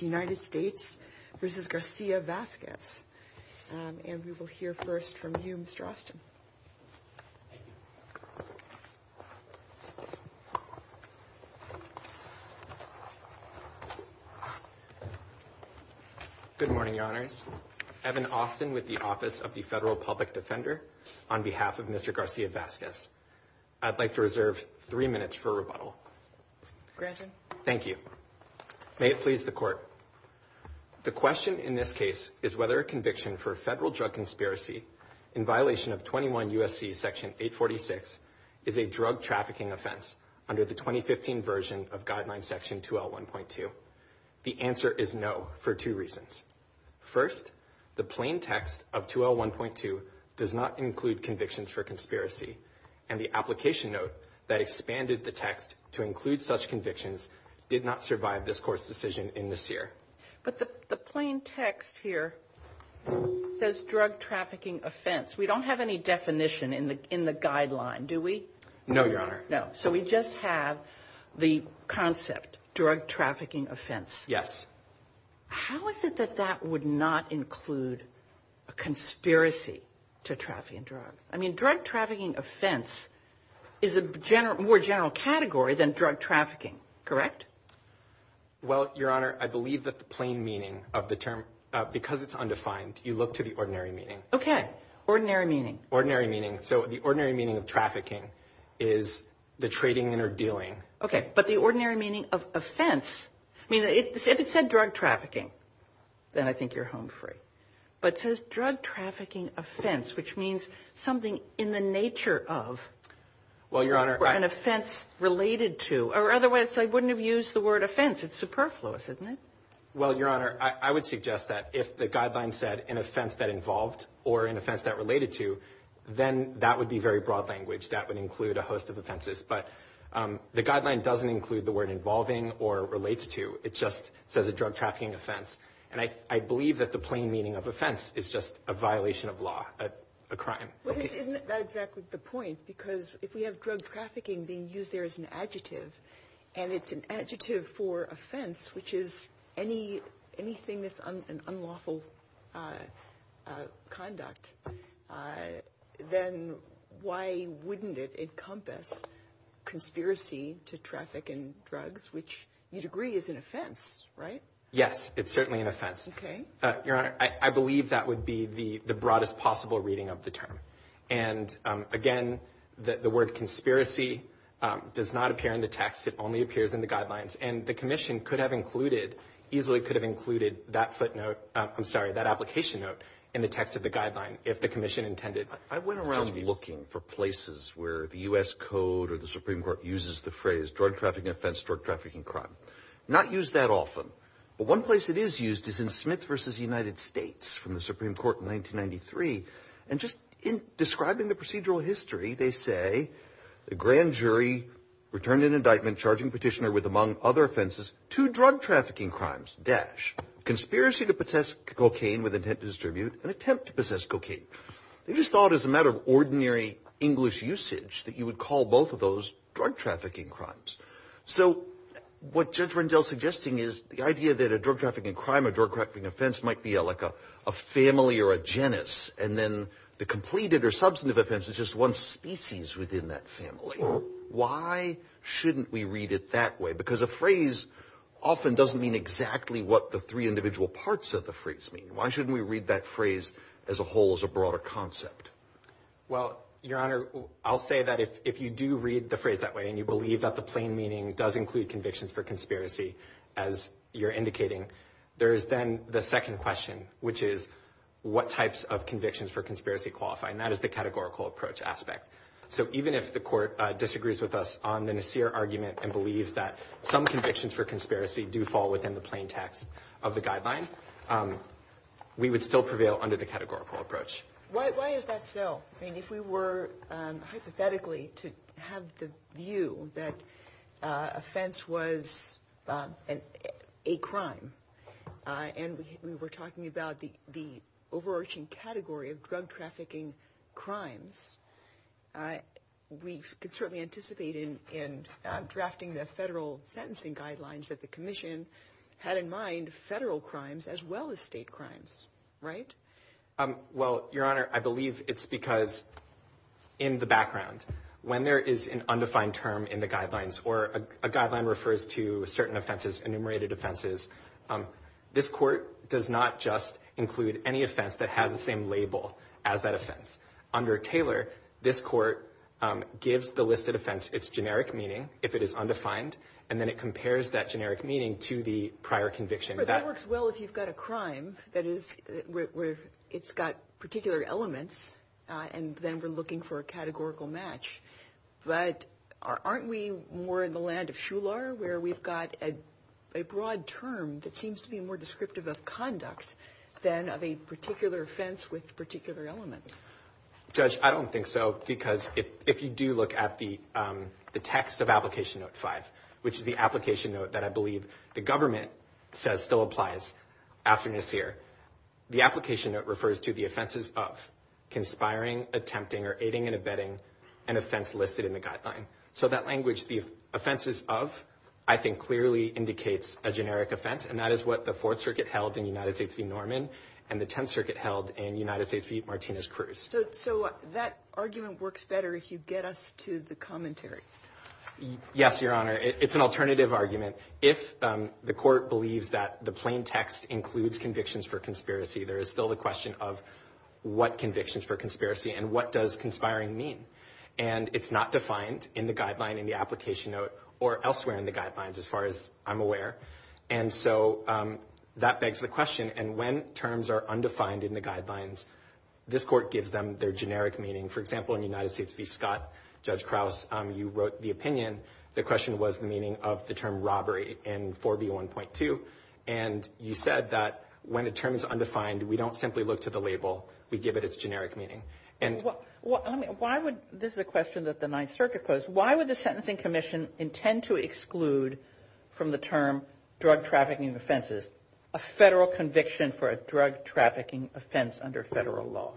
United States v. Garcia-Vasquez, and we will hear first from you, Mr. Austin. Good morning, Your Honors. Evan Austin with the Office of the Federal Public Defender on behalf of Mr. Garcia-Vasquez. I'd like to reserve three minutes for rebuttal. Thank you. May it please the Court. The question in this case is whether a conviction for federal drug conspiracy in violation of 21 U.S.C. Section 846 is a drug trafficking offense under the 2015 version of Guideline Section 2L1.2. The answer is no for two reasons. First, the plain text of 2L1.2 does not include convictions for conspiracy. And the application note that expanded the text to include such convictions did not survive this Court's decision in this year. But the plain text here says drug trafficking offense. We don't have any definition in the Guideline, do we? No, Your Honor. No. So we just have the concept, drug trafficking offense. Yes. How is it that that would not include a conspiracy to trafficking drugs? I mean, drug trafficking offense is a more general category than drug trafficking, correct? Well, Your Honor, I believe that the plain meaning of the term, because it's undefined, you look to the ordinary meaning. Okay. Ordinary meaning. So the ordinary meaning of trafficking is the trading and or dealing. Okay. But the ordinary meaning of offense, I mean, if it said drug trafficking, then I think you're home free. But it says drug trafficking offense, which means something in the nature of an offense related to. Or otherwise I wouldn't have used the word offense. It's superfluous, isn't it? Well, Your Honor, I would suggest that if the Guideline said an offense that involved or an offense that related to, then that would be very broad language. That would include a host of offenses. But the Guideline doesn't include the word involving or relates to. It just says a drug trafficking offense. And I believe that the plain meaning of offense is just a violation of law, a crime. Isn't that exactly the point? Because if we have drug trafficking being used there as an adjective, and it's an adjective for offense, which is anything that's an unlawful conduct, then why wouldn't it encompass conspiracy to traffic and drugs, which you'd agree is an offense, right? Yes, it's certainly an offense. Your Honor, I believe that would be the broadest possible reading of the term. And again, the word conspiracy does not appear in the text. It only appears in the Guidelines. And the Commission could have included, easily could have included that footnote, I'm sorry, that application note in the text of the Guideline if the Commission intended. I went around looking for places where the U.S. Code or the Supreme Court uses the phrase drug trafficking offense, drug trafficking crime. Not used that often. But one place it is used is in Smith v. United States from the Supreme Court in 1993. And just in describing the procedural history, they say, the grand jury returned an indictment charging petitioner with, among other offenses, two drug trafficking crimes, dash, conspiracy to possess cocaine with intent to distribute, and attempt to possess cocaine. They just thought as a matter of ordinary English usage that you would call both of those drug trafficking crimes. So what Judge Rendell's suggesting is the idea that a drug trafficking crime, a drug trafficking offense, might be like a family or a genus, and then the completed or substantive offense is just one species within that family. Why shouldn't we read it that way? Because a phrase often doesn't mean exactly what the three individual parts of the phrase mean. Why shouldn't we read that phrase as a whole, as a broader concept? Well, Your Honor, I'll say that if you do read the phrase that way and you believe that the plain meaning does include convictions for conspiracy, as you're indicating, there is then the second question, which is what types of convictions for conspiracy qualify, and that is the categorical approach aspect. So even if the Court disagrees with us on the Nasir argument and believes that some convictions for conspiracy do fall within the plain text of the guideline, we would still prevail under the categorical approach. Why is that so? I mean, if we were hypothetically to have the view that offense was a crime, and we were talking about the overarching category of drug trafficking crimes, we could certainly anticipate in drafting the federal sentencing guidelines that the Commission had in mind federal crimes as well as state crimes, right? Well, Your Honor, I believe it's because in the background, when there is an undefined term in the guidelines, or a guideline refers to certain offenses, enumerated offenses, this Court does not just include any offense that has the same label as that offense. Under Taylor, this Court gives the listed offense its generic meaning, if it is undefined, and then it compares that generic meaning to the prior conviction. Your Honor, that works well if you've got a crime where it's got particular elements, and then we're looking for a categorical match. But aren't we more in the land of Shular, where we've got a broad term that seems to be more descriptive of conduct than of a particular offense with particular elements? Judge, I don't think so, because if you do look at the text of Application Note 5, which is the application note that I believe the government says still applies after Nassir, the application note refers to the offenses of conspiring, attempting, or aiding and abetting an offense listed in the guideline. So that language, the offenses of, I think clearly indicates a generic offense, and that is what the Fourth Circuit held in United States v. Norman and the Tenth Circuit held in United States v. Martinez-Cruz. So that argument works better if you get us to the commentary. Yes, Your Honor, it's an alternative argument. If the court believes that the plain text includes convictions for conspiracy, there is still the question of what convictions for conspiracy and what does conspiring mean. And it's not defined in the guideline, in the application note, or elsewhere in the guidelines, as far as I'm aware. And so that begs the question, and when terms are undefined in the guidelines, this court gives them their generic meaning. For example, in United States v. Scott, Judge Krause, you wrote the opinion. The question was the meaning of the term robbery in 4B1.2. And you said that when a term is undefined, we don't simply look to the label. We give it its generic meaning. This is a question that the Ninth Circuit posed. Why would the Sentencing Commission intend to exclude from the term drug trafficking offenses a federal conviction for a drug trafficking offense under federal law?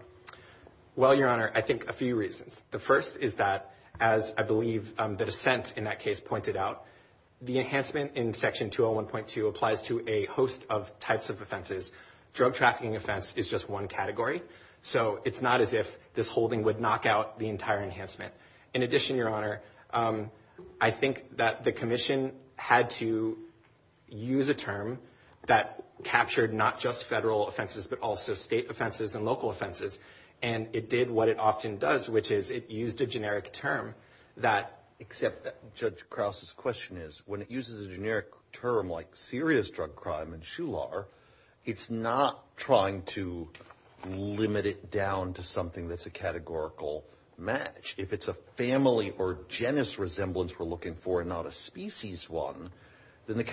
Well, Your Honor, I think a few reasons. The first is that, as I believe the dissent in that case pointed out, the enhancement in Section 201.2 applies to a host of types of offenses. Drug trafficking offense is just one category. So it's not as if this holding would knock out the entire enhancement. In addition, Your Honor, I think that the Commission had to use a term that captured not just federal offenses, but also state offenses and local offenses. And it did what it often does, which is it used a generic term that, except that Judge Krause's question is, when it uses a generic term like serious drug crime in Shular, it's not trying to limit it down to something that's a categorical match. If it's a family or genus resemblance we're looking for and not a species one, then the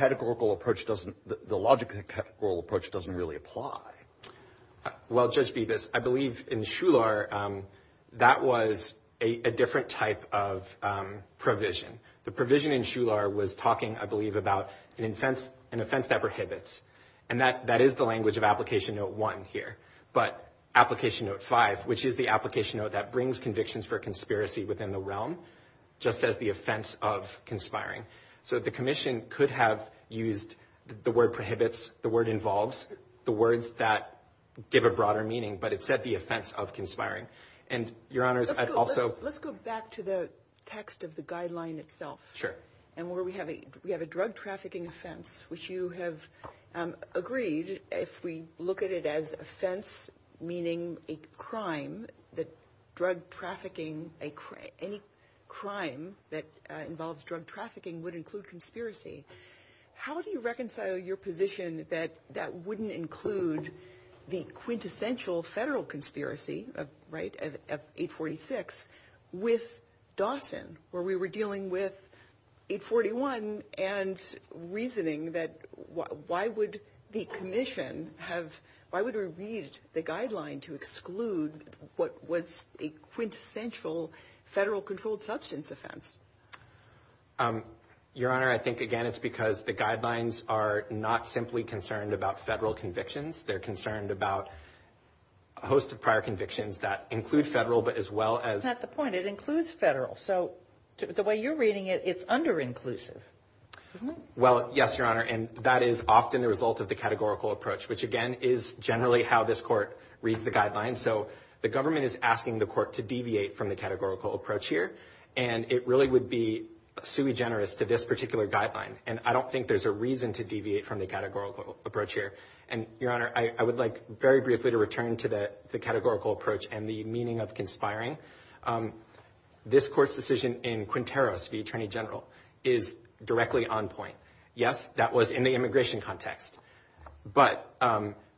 logic of the categorical approach doesn't really apply. Well, Judge Bibas, I believe in Shular that was a different type of provision. The provision in Shular was talking, I believe, about an offense that prohibits. And that is the language of Application Note 1 here, but Application Note 5, which is the application note that brings convictions for conspiracy within the realm, just says the offense of conspiring. So the Commission could have used the word prohibits, the word involves, the words that give a broader meaning, but it said the offense of conspiring. Let's go back to the text of the guideline itself. And where we have a drug trafficking offense, which you have agreed, if we look at it as offense meaning a crime, that drug trafficking, any crime that involves drug trafficking would include conspiracy. How do you reconcile your position that that wouldn't include the quintessential federal conspiracy, right, of 846, with Dawson, where we were dealing with 841 and reasoning that why would the Commission have, why would we read the guideline to exclude what was a quintessential federal controlled substance offense? Your Honor, I think, again, it's because the guidelines are not simply concerned about federal convictions. They're concerned about a host of prior convictions that include federal, but as well as... That's not the point. It includes federal. So the way you're reading it, it's under-inclusive, isn't it? Well, yes, Your Honor, and that is often the result of the categorical approach, which, again, is generally how this Court reads the guidelines. So the government is asking the Court to deviate from the categorical approach here, and it really would be sui generis to this particular guideline, and I don't think there's a reason to deviate from the categorical approach here. And, Your Honor, I would like very briefly to return to the categorical approach and the meaning of conspiring. This Court's decision in Quinteros, the Attorney General, is directly on point. Yes, that was in the immigration context, but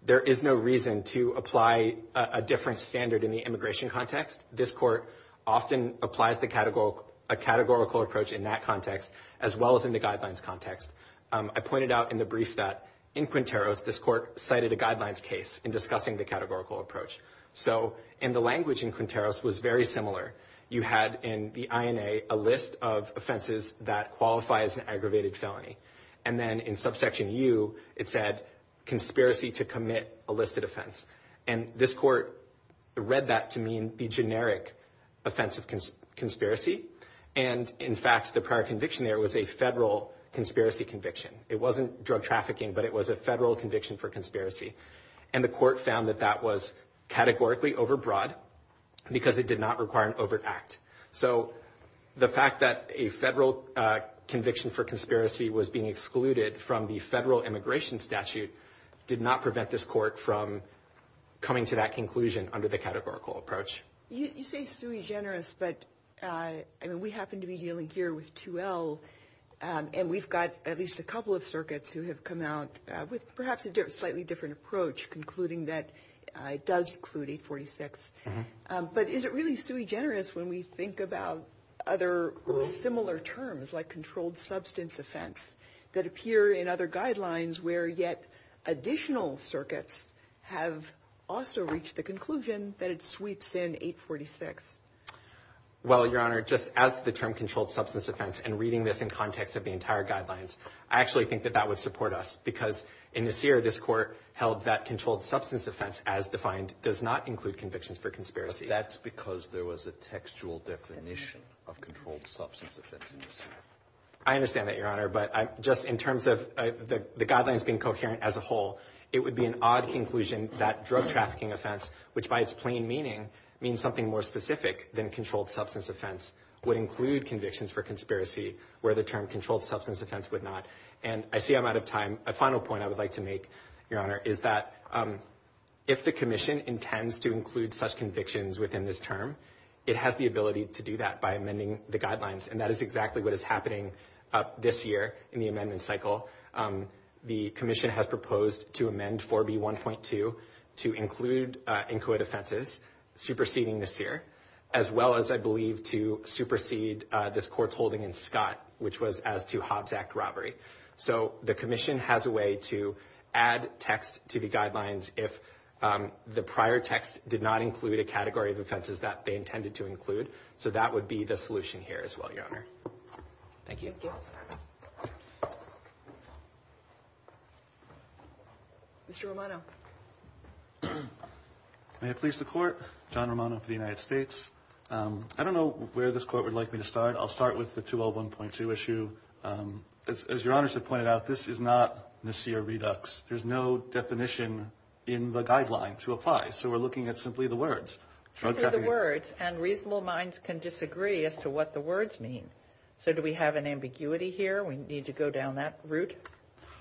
there is no reason to apply a different standard in the immigration context. This Court often applies a categorical approach in that context, as well as in the guidelines context. I pointed out in the brief that, in Quinteros, this Court cited a guidelines case in discussing the categorical approach. So, and the language in Quinteros was very similar. You had in the INA a list of offenses that qualify as an aggravated felony, and then in subsection U, it said, conspiracy to commit a listed offense. And this Court read that to mean the generic offense of conspiracy. And, in fact, the prior conviction there was a federal conspiracy conviction. It wasn't drug trafficking, but it was a federal conviction for conspiracy. And the Court found that that was categorically overbroad because it did not require an overt act. So the fact that a federal conviction for conspiracy was being excluded from the federal immigration statute did not prevent this Court from coming to that conclusion under the categorical approach. You say sui generis, but we happen to be dealing here with 2L, and we've got at least a couple of circuits who have come out with perhaps a slightly different approach, concluding that it does include 846. But is it really sui generis when we think about other similar terms, like controlled substance offense, that appear in other guidelines where yet additional circuits have also reached the conclusion that it sweeps in 846? Well, Your Honor, just as the term controlled substance offense, and reading this in context of the entire guidelines, I actually think that that would support us. Because in this year, this Court held that controlled substance offense, as defined, does not include convictions for conspiracy. That's because there was a textual definition of controlled substance offense in this year. I understand that, Your Honor. But just in terms of the guidelines being coherent as a whole, it would be an odd conclusion that drug trafficking offense, which by its plain meaning means something more specific than controlled substance offense, would include convictions for conspiracy where the term controlled substance offense would not. And I see I'm out of time. A final point I would like to make, Your Honor, is that if the Commission intends to include such convictions within this term, it has the ability to do that by amending the guidelines. And that is exactly what is happening this year in the amendment cycle. The Commission has proposed to amend 4B1.2 to include incoit offenses superseding this year, as well as, I believe, to supersede this Court's holding in Scott, which was as to Hobbs Act robbery. So the Commission has a way to add text to the guidelines if the prior text did not include a category of offenses that they intended to include. So that would be the solution here as well, Your Honor. Thank you. Thank you. Mr. Romano. May it please the Court. John Romano for the United States. I don't know where this Court would like me to start. I'll start with the 201.2 issue. As Your Honor has pointed out, this is not Nassir Redux. There's no definition in the guideline to apply. So we're looking at simply the words. And reasonable minds can disagree as to what the words mean. So do we have an ambiguity here? We need to go down that route?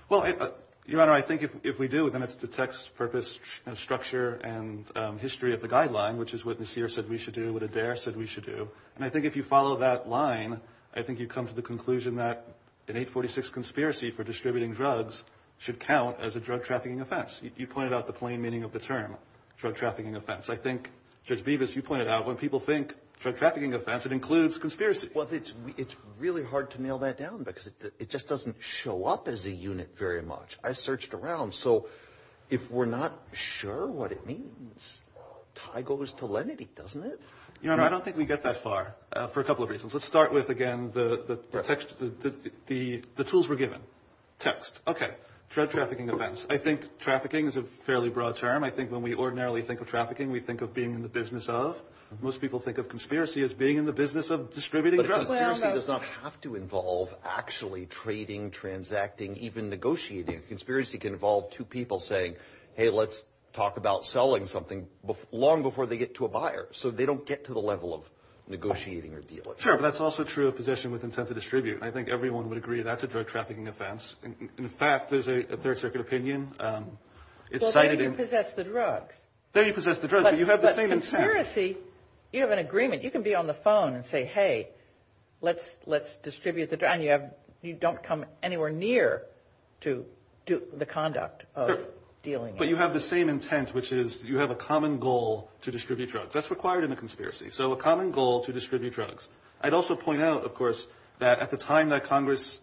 Well, Your Honor, I think if we do, then it's the text, purpose, structure, and history of the guideline, which is what Nassir said we should do, what Adair said we should do. And I think if you follow that line, I think you come to the conclusion that an 846 conspiracy for distributing drugs should count as a drug trafficking offense. You pointed out the plain meaning of the term drug trafficking offense. I think, Judge Bevis, you pointed out when people think drug trafficking offense, it includes conspiracy. Well, it's really hard to nail that down because it just doesn't show up as a unit very much. I searched around. So if we're not sure what it means, tie goes to lenity, doesn't it? Your Honor, I don't think we get that far for a couple of reasons. Let's start with, again, the tools we're given. Text. Okay. Drug trafficking offense. I think trafficking is a fairly broad term. I think when we ordinarily think of trafficking, we think of being in the business of. Most people think of conspiracy as being in the business of distributing drugs. Conspiracy does not have to involve actually trading, transacting, even negotiating. Conspiracy can involve two people saying, hey, let's talk about selling something long before they get to a buyer. So they don't get to the level of negotiating or dealing. Sure, but that's also true of possession with intent to distribute. I think everyone would agree that's a drug trafficking offense. In fact, there's a Third Circuit opinion. Well, they didn't possess the drugs. They didn't possess the drugs, but you have the same intent. But conspiracy, you have an agreement. You can be on the phone and say, hey, let's distribute the drugs, and you don't come anywhere near to the conduct of dealing. But you have the same intent, which is you have a common goal to distribute drugs. That's required in a conspiracy. So a common goal to distribute drugs. I'd also point out, of course, that at the time that Congress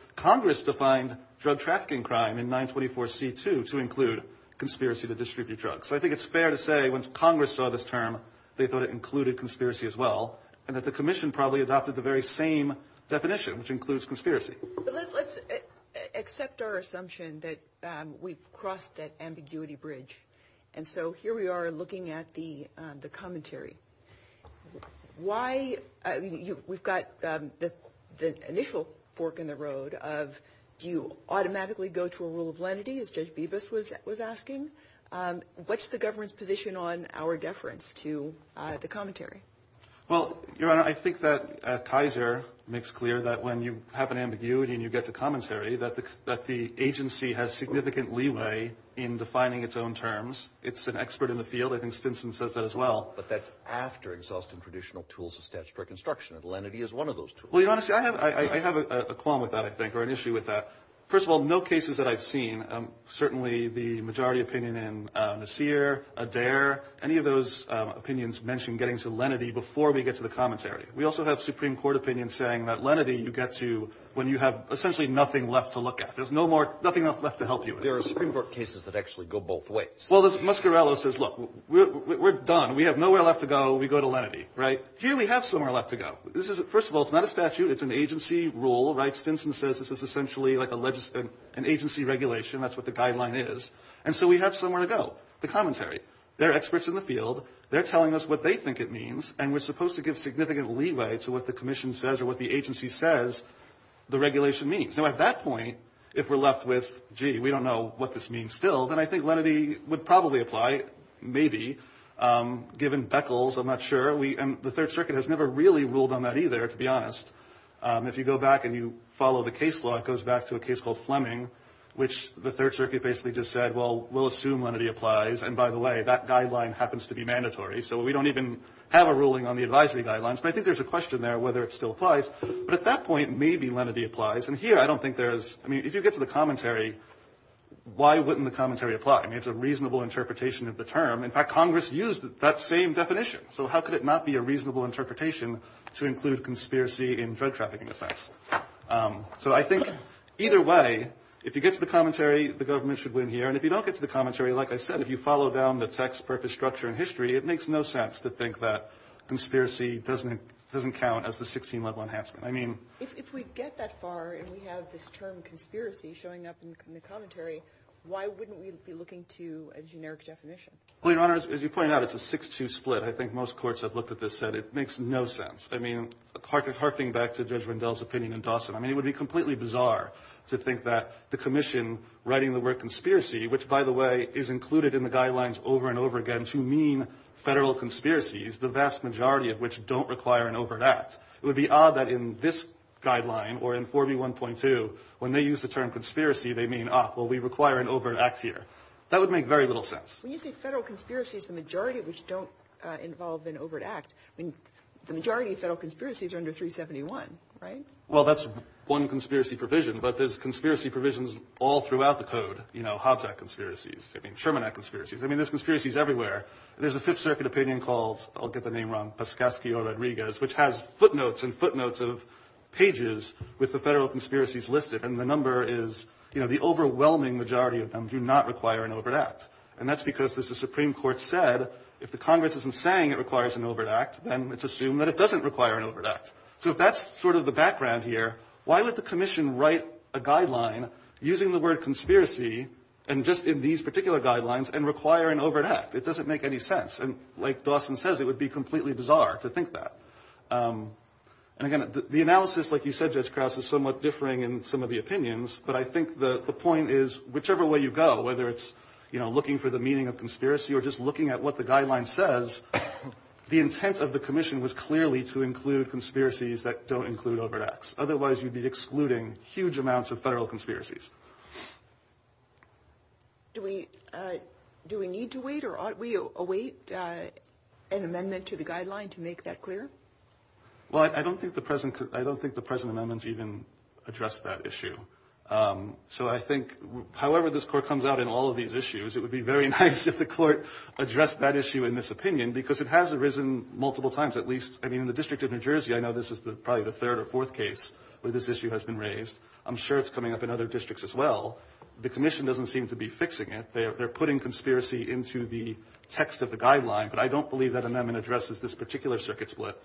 – Congress defined drug trafficking crime in 924C2 to include conspiracy to distribute drugs. So I think it's fair to say once Congress saw this term, they thought it included conspiracy as well, and that the Commission probably adopted the very same definition, which includes conspiracy. Let's accept our assumption that we've crossed that ambiguity bridge. And so here we are looking at the commentary. Why – we've got the initial fork in the road of do you automatically go to a rule of lenity, as Judge Bibas was asking? What's the government's position on our deference to the commentary? Well, Your Honor, I think that Kaiser makes clear that when you have an ambiguity and you get to commentary, that the agency has significant leeway in defining its own terms. It's an expert in the field. I think Stinson says that as well. But that's after exhausting traditional tools of statutory construction, and lenity is one of those tools. Well, Your Honor, I have a qualm with that, I think, or an issue with that. First of all, no cases that I've seen, certainly the majority opinion in Nasir, Adair, any of those opinions mention getting to lenity before we get to the commentary. We also have Supreme Court opinions saying that lenity you get to when you have, essentially, nothing left to look at. There's no more – nothing left to help you with. There are Supreme Court cases that actually go both ways. Well, as Muscarello says, look, we're done. We have nowhere left to go. We go to lenity, right? Here we have somewhere left to go. First of all, it's not a statute. It's an agency rule, right? Stinson says this is essentially like an agency regulation. That's what the guideline is. And so we have somewhere to go, the commentary. They're experts in the field. They're telling us what they think it means, and we're supposed to give significant leeway to what the commission says or what the agency says the regulation means. Now, at that point, if we're left with, gee, we don't know what this means still, then I think lenity would probably apply, maybe, given Beckles. I'm not sure. And the Third Circuit has never really ruled on that either, to be honest. If you go back and you follow the case law, it goes back to a case called Fleming, which the Third Circuit basically just said, well, we'll assume lenity applies. And, by the way, that guideline happens to be mandatory, so we don't even have a ruling on the advisory guidelines. But I think there's a question there whether it still applies. But at that point, maybe lenity applies. And here I don't think there is – I mean, if you get to the commentary, why wouldn't the commentary apply? I mean, it's a reasonable interpretation of the term. In fact, Congress used that same definition. So how could it not be a reasonable interpretation to include conspiracy in drug trafficking offense? So I think either way, if you get to the commentary, the government should win here. And if you don't get to the commentary, like I said, if you follow down the text, purpose, structure, and history, it makes no sense to think that conspiracy doesn't count as the 16-level enhancement. I mean – If we get that far and we have this term conspiracy showing up in the commentary, why wouldn't we be looking to a generic definition? Well, Your Honor, as you point out, it's a 6-2 split. I think most courts have looked at this and said it makes no sense. I mean, harping back to Judge Rendell's opinion in Dawson, I mean, it would be completely bizarre to think that the commission writing the word conspiracy, which, by the way, is included in the guidelines over and over again to mean Federal conspiracies, the vast majority of which don't require an overt act. It would be odd that in this guideline or in 4B1.2, when they use the term conspiracy, they mean, ah, well, we require an overt act here. That would make very little sense. When you say Federal conspiracies, the majority of which don't involve an overt act, I mean, the majority of Federal conspiracies are under 371, right? Well, that's one conspiracy provision, but there's conspiracy provisions all throughout the code. You know, Hobbs Act conspiracies. I mean, Sherman Act conspiracies. I mean, there's conspiracies everywhere. There's a Fifth Circuit opinion called – I'll get the name wrong – which has footnotes and footnotes of pages with the Federal conspiracies listed. And the number is, you know, the overwhelming majority of them do not require an overt act. And that's because, as the Supreme Court said, if the Congress isn't saying it requires an overt act, then let's assume that it doesn't require an overt act. So if that's sort of the background here, why would the commission write a guideline using the word conspiracy and just in these particular guidelines and require an overt act? It doesn't make any sense. And, like Dawson says, it would be completely bizarre to think that. And, again, the analysis, like you said, Judge Krause, is somewhat differing in some of the opinions. But I think the point is, whichever way you go, whether it's, you know, looking for the meaning of conspiracy or just looking at what the guideline says, the intent of the commission was clearly to include conspiracies that don't include overt acts. Otherwise, you'd be excluding huge amounts of Federal conspiracies. Do we need to wait or ought we await an amendment to the guideline to make that clear? Well, I don't think the present amendments even address that issue. So I think however this court comes out in all of these issues, it would be very nice if the court addressed that issue in this opinion, because it has arisen multiple times. At least, I mean, in the District of New Jersey, I know this is probably the third or fourth case where this issue has been raised. I'm sure it's coming up in other districts as well. The commission doesn't seem to be fixing it. They're putting conspiracy into the text of the guideline. But I don't believe that amendment addresses this particular circuit split.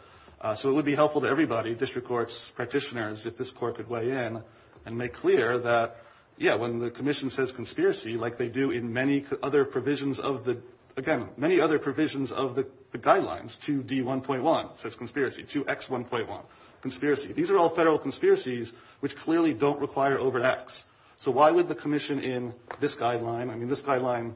So it would be helpful to everybody, district courts, practitioners, if this court could weigh in and make clear that, yeah, when the commission says conspiracy, like they do in many other provisions of the, again, many other provisions of the guidelines, 2D1.1 says conspiracy, 2X1.1, conspiracy. These are all federal conspiracies which clearly don't require overreacts. So why would the commission in this guideline, I mean, this guideline,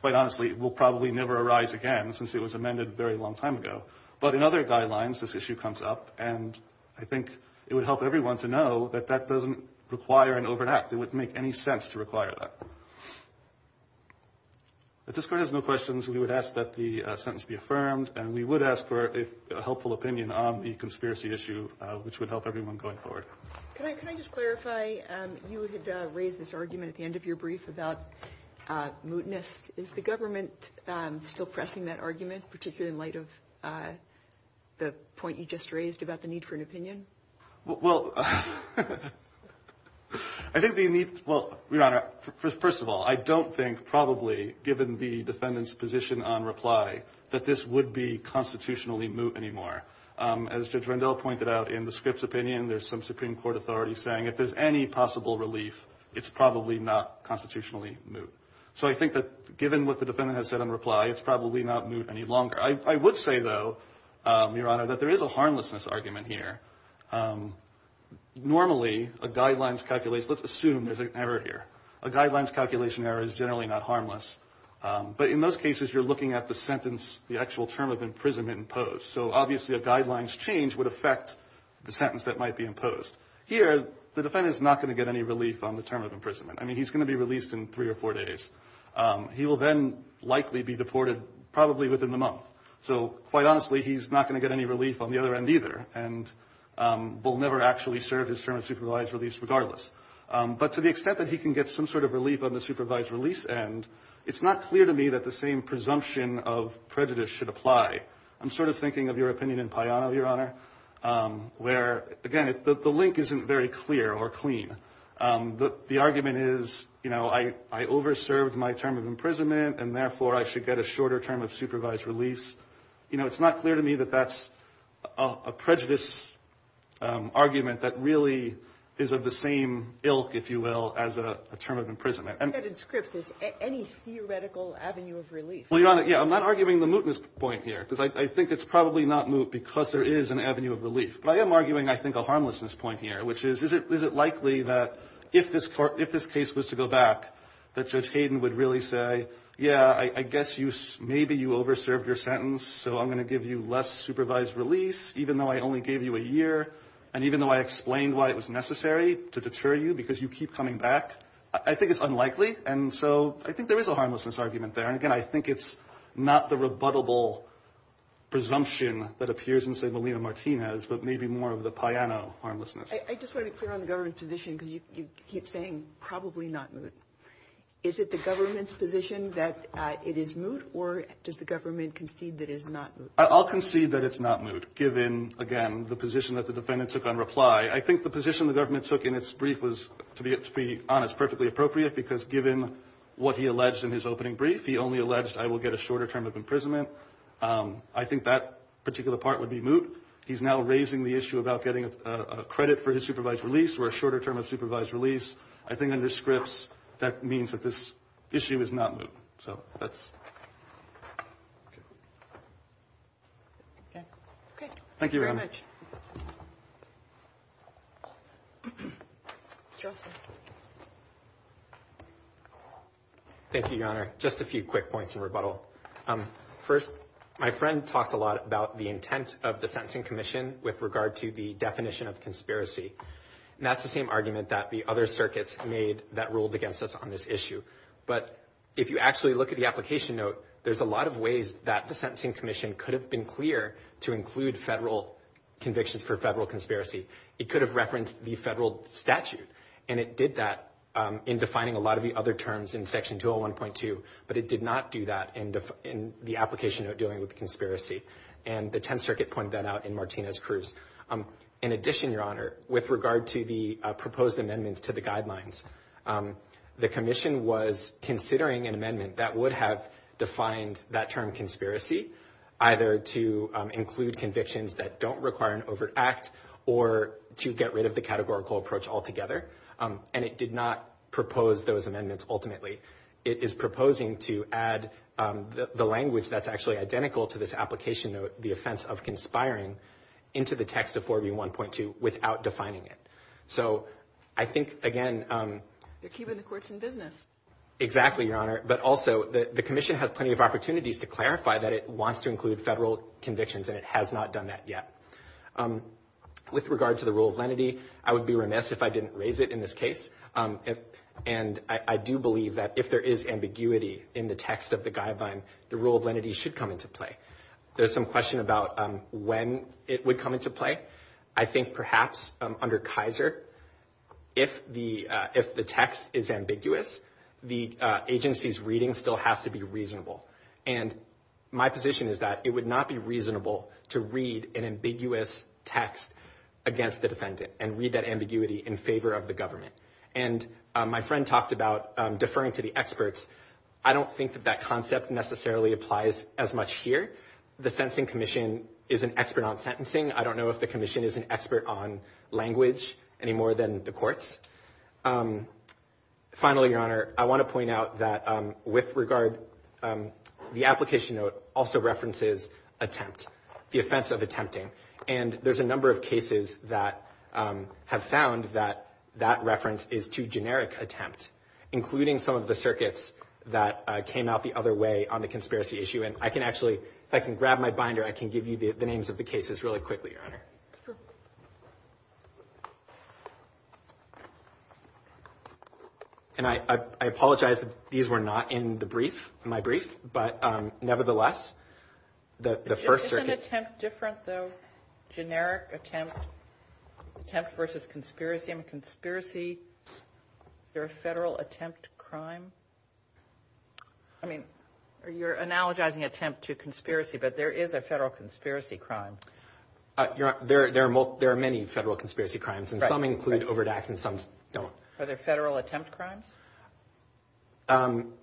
quite honestly, will probably never arise again since it was amended a very long time ago. But in other guidelines, this issue comes up, and I think it would help everyone to know that that doesn't require an overreact. It wouldn't make any sense to require that. If this court has no questions, we would ask that the sentence be affirmed, and we would ask for a helpful opinion on the conspiracy issue, which would help everyone going forward. Can I just clarify, you had raised this argument at the end of your brief about mootness. Is the government still pressing that argument, particularly in light of the point you just raised about the need for an opinion? Well, I think the need, well, Your Honor, first of all, I don't think probably given the defendant's position on reply that this would be constitutionally moot anymore. As Judge Rendell pointed out in the Scripps' opinion, there's some Supreme Court authority saying if there's any possible relief, it's probably not constitutionally moot. So I think that given what the defendant has said in reply, it's probably not moot any longer. I would say, though, Your Honor, that there is a harmlessness argument here. Normally, a guidelines calculation, let's assume there's an error here. A guidelines calculation error is generally not harmless. But in most cases, you're looking at the sentence, the actual term of imprisonment imposed. So obviously a guidelines change would affect the sentence that might be imposed. Here, the defendant is not going to get any relief on the term of imprisonment. I mean, he's going to be released in three or four days. He will then likely be deported probably within the month. So quite honestly, he's not going to get any relief on the other end either and will never actually serve his term of supervised release regardless. But to the extent that he can get some sort of relief on the supervised release end, it's not clear to me that the same presumption of prejudice should apply. I'm sort of thinking of your opinion in Payano, Your Honor, where, again, the link isn't very clear or clean. The argument is, you know, I over-served my term of imprisonment and therefore I should get a shorter term of supervised release. You know, it's not clear to me that that's a prejudice argument that really is of the same ilk, if you will, as a term of imprisonment. And that in script is any theoretical avenue of relief. Well, Your Honor, yeah, I'm not arguing the mootness point here because I think it's probably not moot because there is an avenue of relief. But I am arguing, I think, a harmlessness point here, which is, is it likely that if this case was to go back, that Judge Hayden would really say, yeah, I guess maybe you over-served your sentence, so I'm going to give you less supervised release even though I only gave you a year and even though I explained why it was necessary to deter you because you keep coming back. I think it's unlikely. And so I think there is a harmlessness argument there. And, again, I think it's not the rebuttable presumption that appears in, say, Molina Martinez, but maybe more of the Payano harmlessness. I just want to be clear on the government's position because you keep saying probably not moot. Is it the government's position that it is moot or does the government concede that it is not moot? I'll concede that it's not moot given, again, the position that the defendant took on reply. I think the position the government took in its brief was, to be honest, perfectly appropriate because given what he alleged in his opening brief, he only alleged I will get a shorter term of imprisonment. I think that particular part would be moot. He's now raising the issue about getting a credit for his supervised release or a shorter term of supervised release. I think under Scripps, that means that this issue is not moot. So that's it. Thank you very much. Thank you, Your Honor. Just a few quick points in rebuttal. First, my friend talked a lot about the intent of the Sentencing Commission with regard to the definition of conspiracy. And that's the same argument that the other circuits made that ruled against us on this issue. But if you actually look at the application note, there's a lot of ways that the Sentencing Commission could have been clear to include federal convictions for federal conspiracy. It could have referenced the federal statute. And it did that in defining a lot of the other terms in Section 201.2, but it did not do that in the application note dealing with conspiracy. And the Tenth Circuit pointed that out in Martinez-Cruz. In addition, Your Honor, with regard to the proposed amendments to the guidelines, the commission was considering an amendment that would have defined that term conspiracy, either to include convictions that don't require an overt act or to get rid of the categorical approach altogether. And it did not propose those amendments ultimately. It is proposing to add the language that's actually identical to this application note, the offense of conspiring, into the text of 4B1.2 without defining it. So I think, again. They're keeping the courts in business. Exactly, Your Honor. But also the commission has plenty of opportunities to clarify that it wants to include federal convictions, and it has not done that yet. With regard to the rule of lenity, I would be remiss if I didn't raise it in this case. And I do believe that if there is ambiguity in the text of the guideline, the rule of lenity should come into play. There's some question about when it would come into play. I think perhaps under Kaiser, if the text is ambiguous, the agency's reading still has to be reasonable. And my position is that it would not be reasonable to read an ambiguous text against the defendant and read that ambiguity in favor of the government. And my friend talked about deferring to the experts. I don't think that that concept necessarily applies as much here. The Sentencing Commission is an expert on sentencing. I don't know if the commission is an expert on language any more than the courts. Finally, Your Honor, I want to point out that, with regard, the application note also references attempt, the offense of attempting. And there's a number of cases that have found that that reference is to generic attempt, including some of the circuits that came out the other way on the conspiracy issue. And I can actually, if I can grab my binder, I can give you the names of the cases really quickly, Your Honor. Sure. And I apologize that these were not in the brief, my brief. But, nevertheless, the first circuit. Isn't attempt different, though? Generic attempt, attempt versus conspiracy. I mean, conspiracy, is there a federal attempt crime? I mean, you're analogizing attempt to conspiracy, but there is a federal conspiracy crime. There are many federal conspiracy crimes, and some include overdrafts and some don't. Are there federal attempt crimes? I'm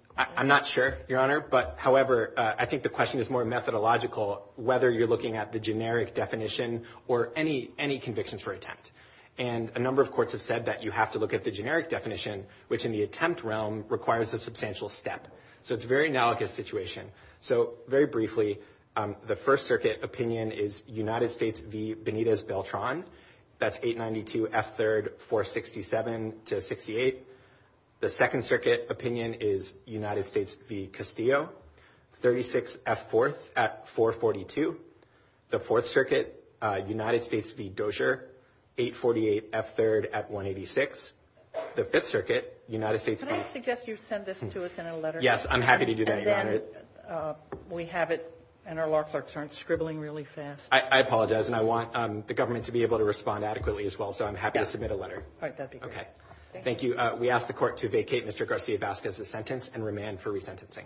not sure, Your Honor, but, however, I think the question is more methodological, whether you're looking at the generic definition or any convictions for attempt. And a number of courts have said that you have to look at the generic definition, which in the attempt realm requires a substantial step. So it's a very analogous situation. So, very briefly, the first circuit opinion is United States v. Benitez Beltran. That's 892 F3rd 467 to 68. The second circuit opinion is United States v. Castillo, 36 F4th at 442. The fourth circuit, United States v. Dozier, 848 F3rd at 186. The fifth circuit, United States. Can I suggest you send this to us in a letter? Yes, I'm happy to do that, Your Honor. And then we have it, and our law clerks aren't scribbling really fast. I apologize, and I want the government to be able to respond adequately as well, so I'm happy to submit a letter. All right, that'd be great. Okay. Thank you. We ask the court to vacate Mr. Garcia-Vasquez's sentence and remand for resentencing.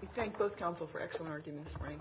We thank both counsel for excellent arguments, Frank.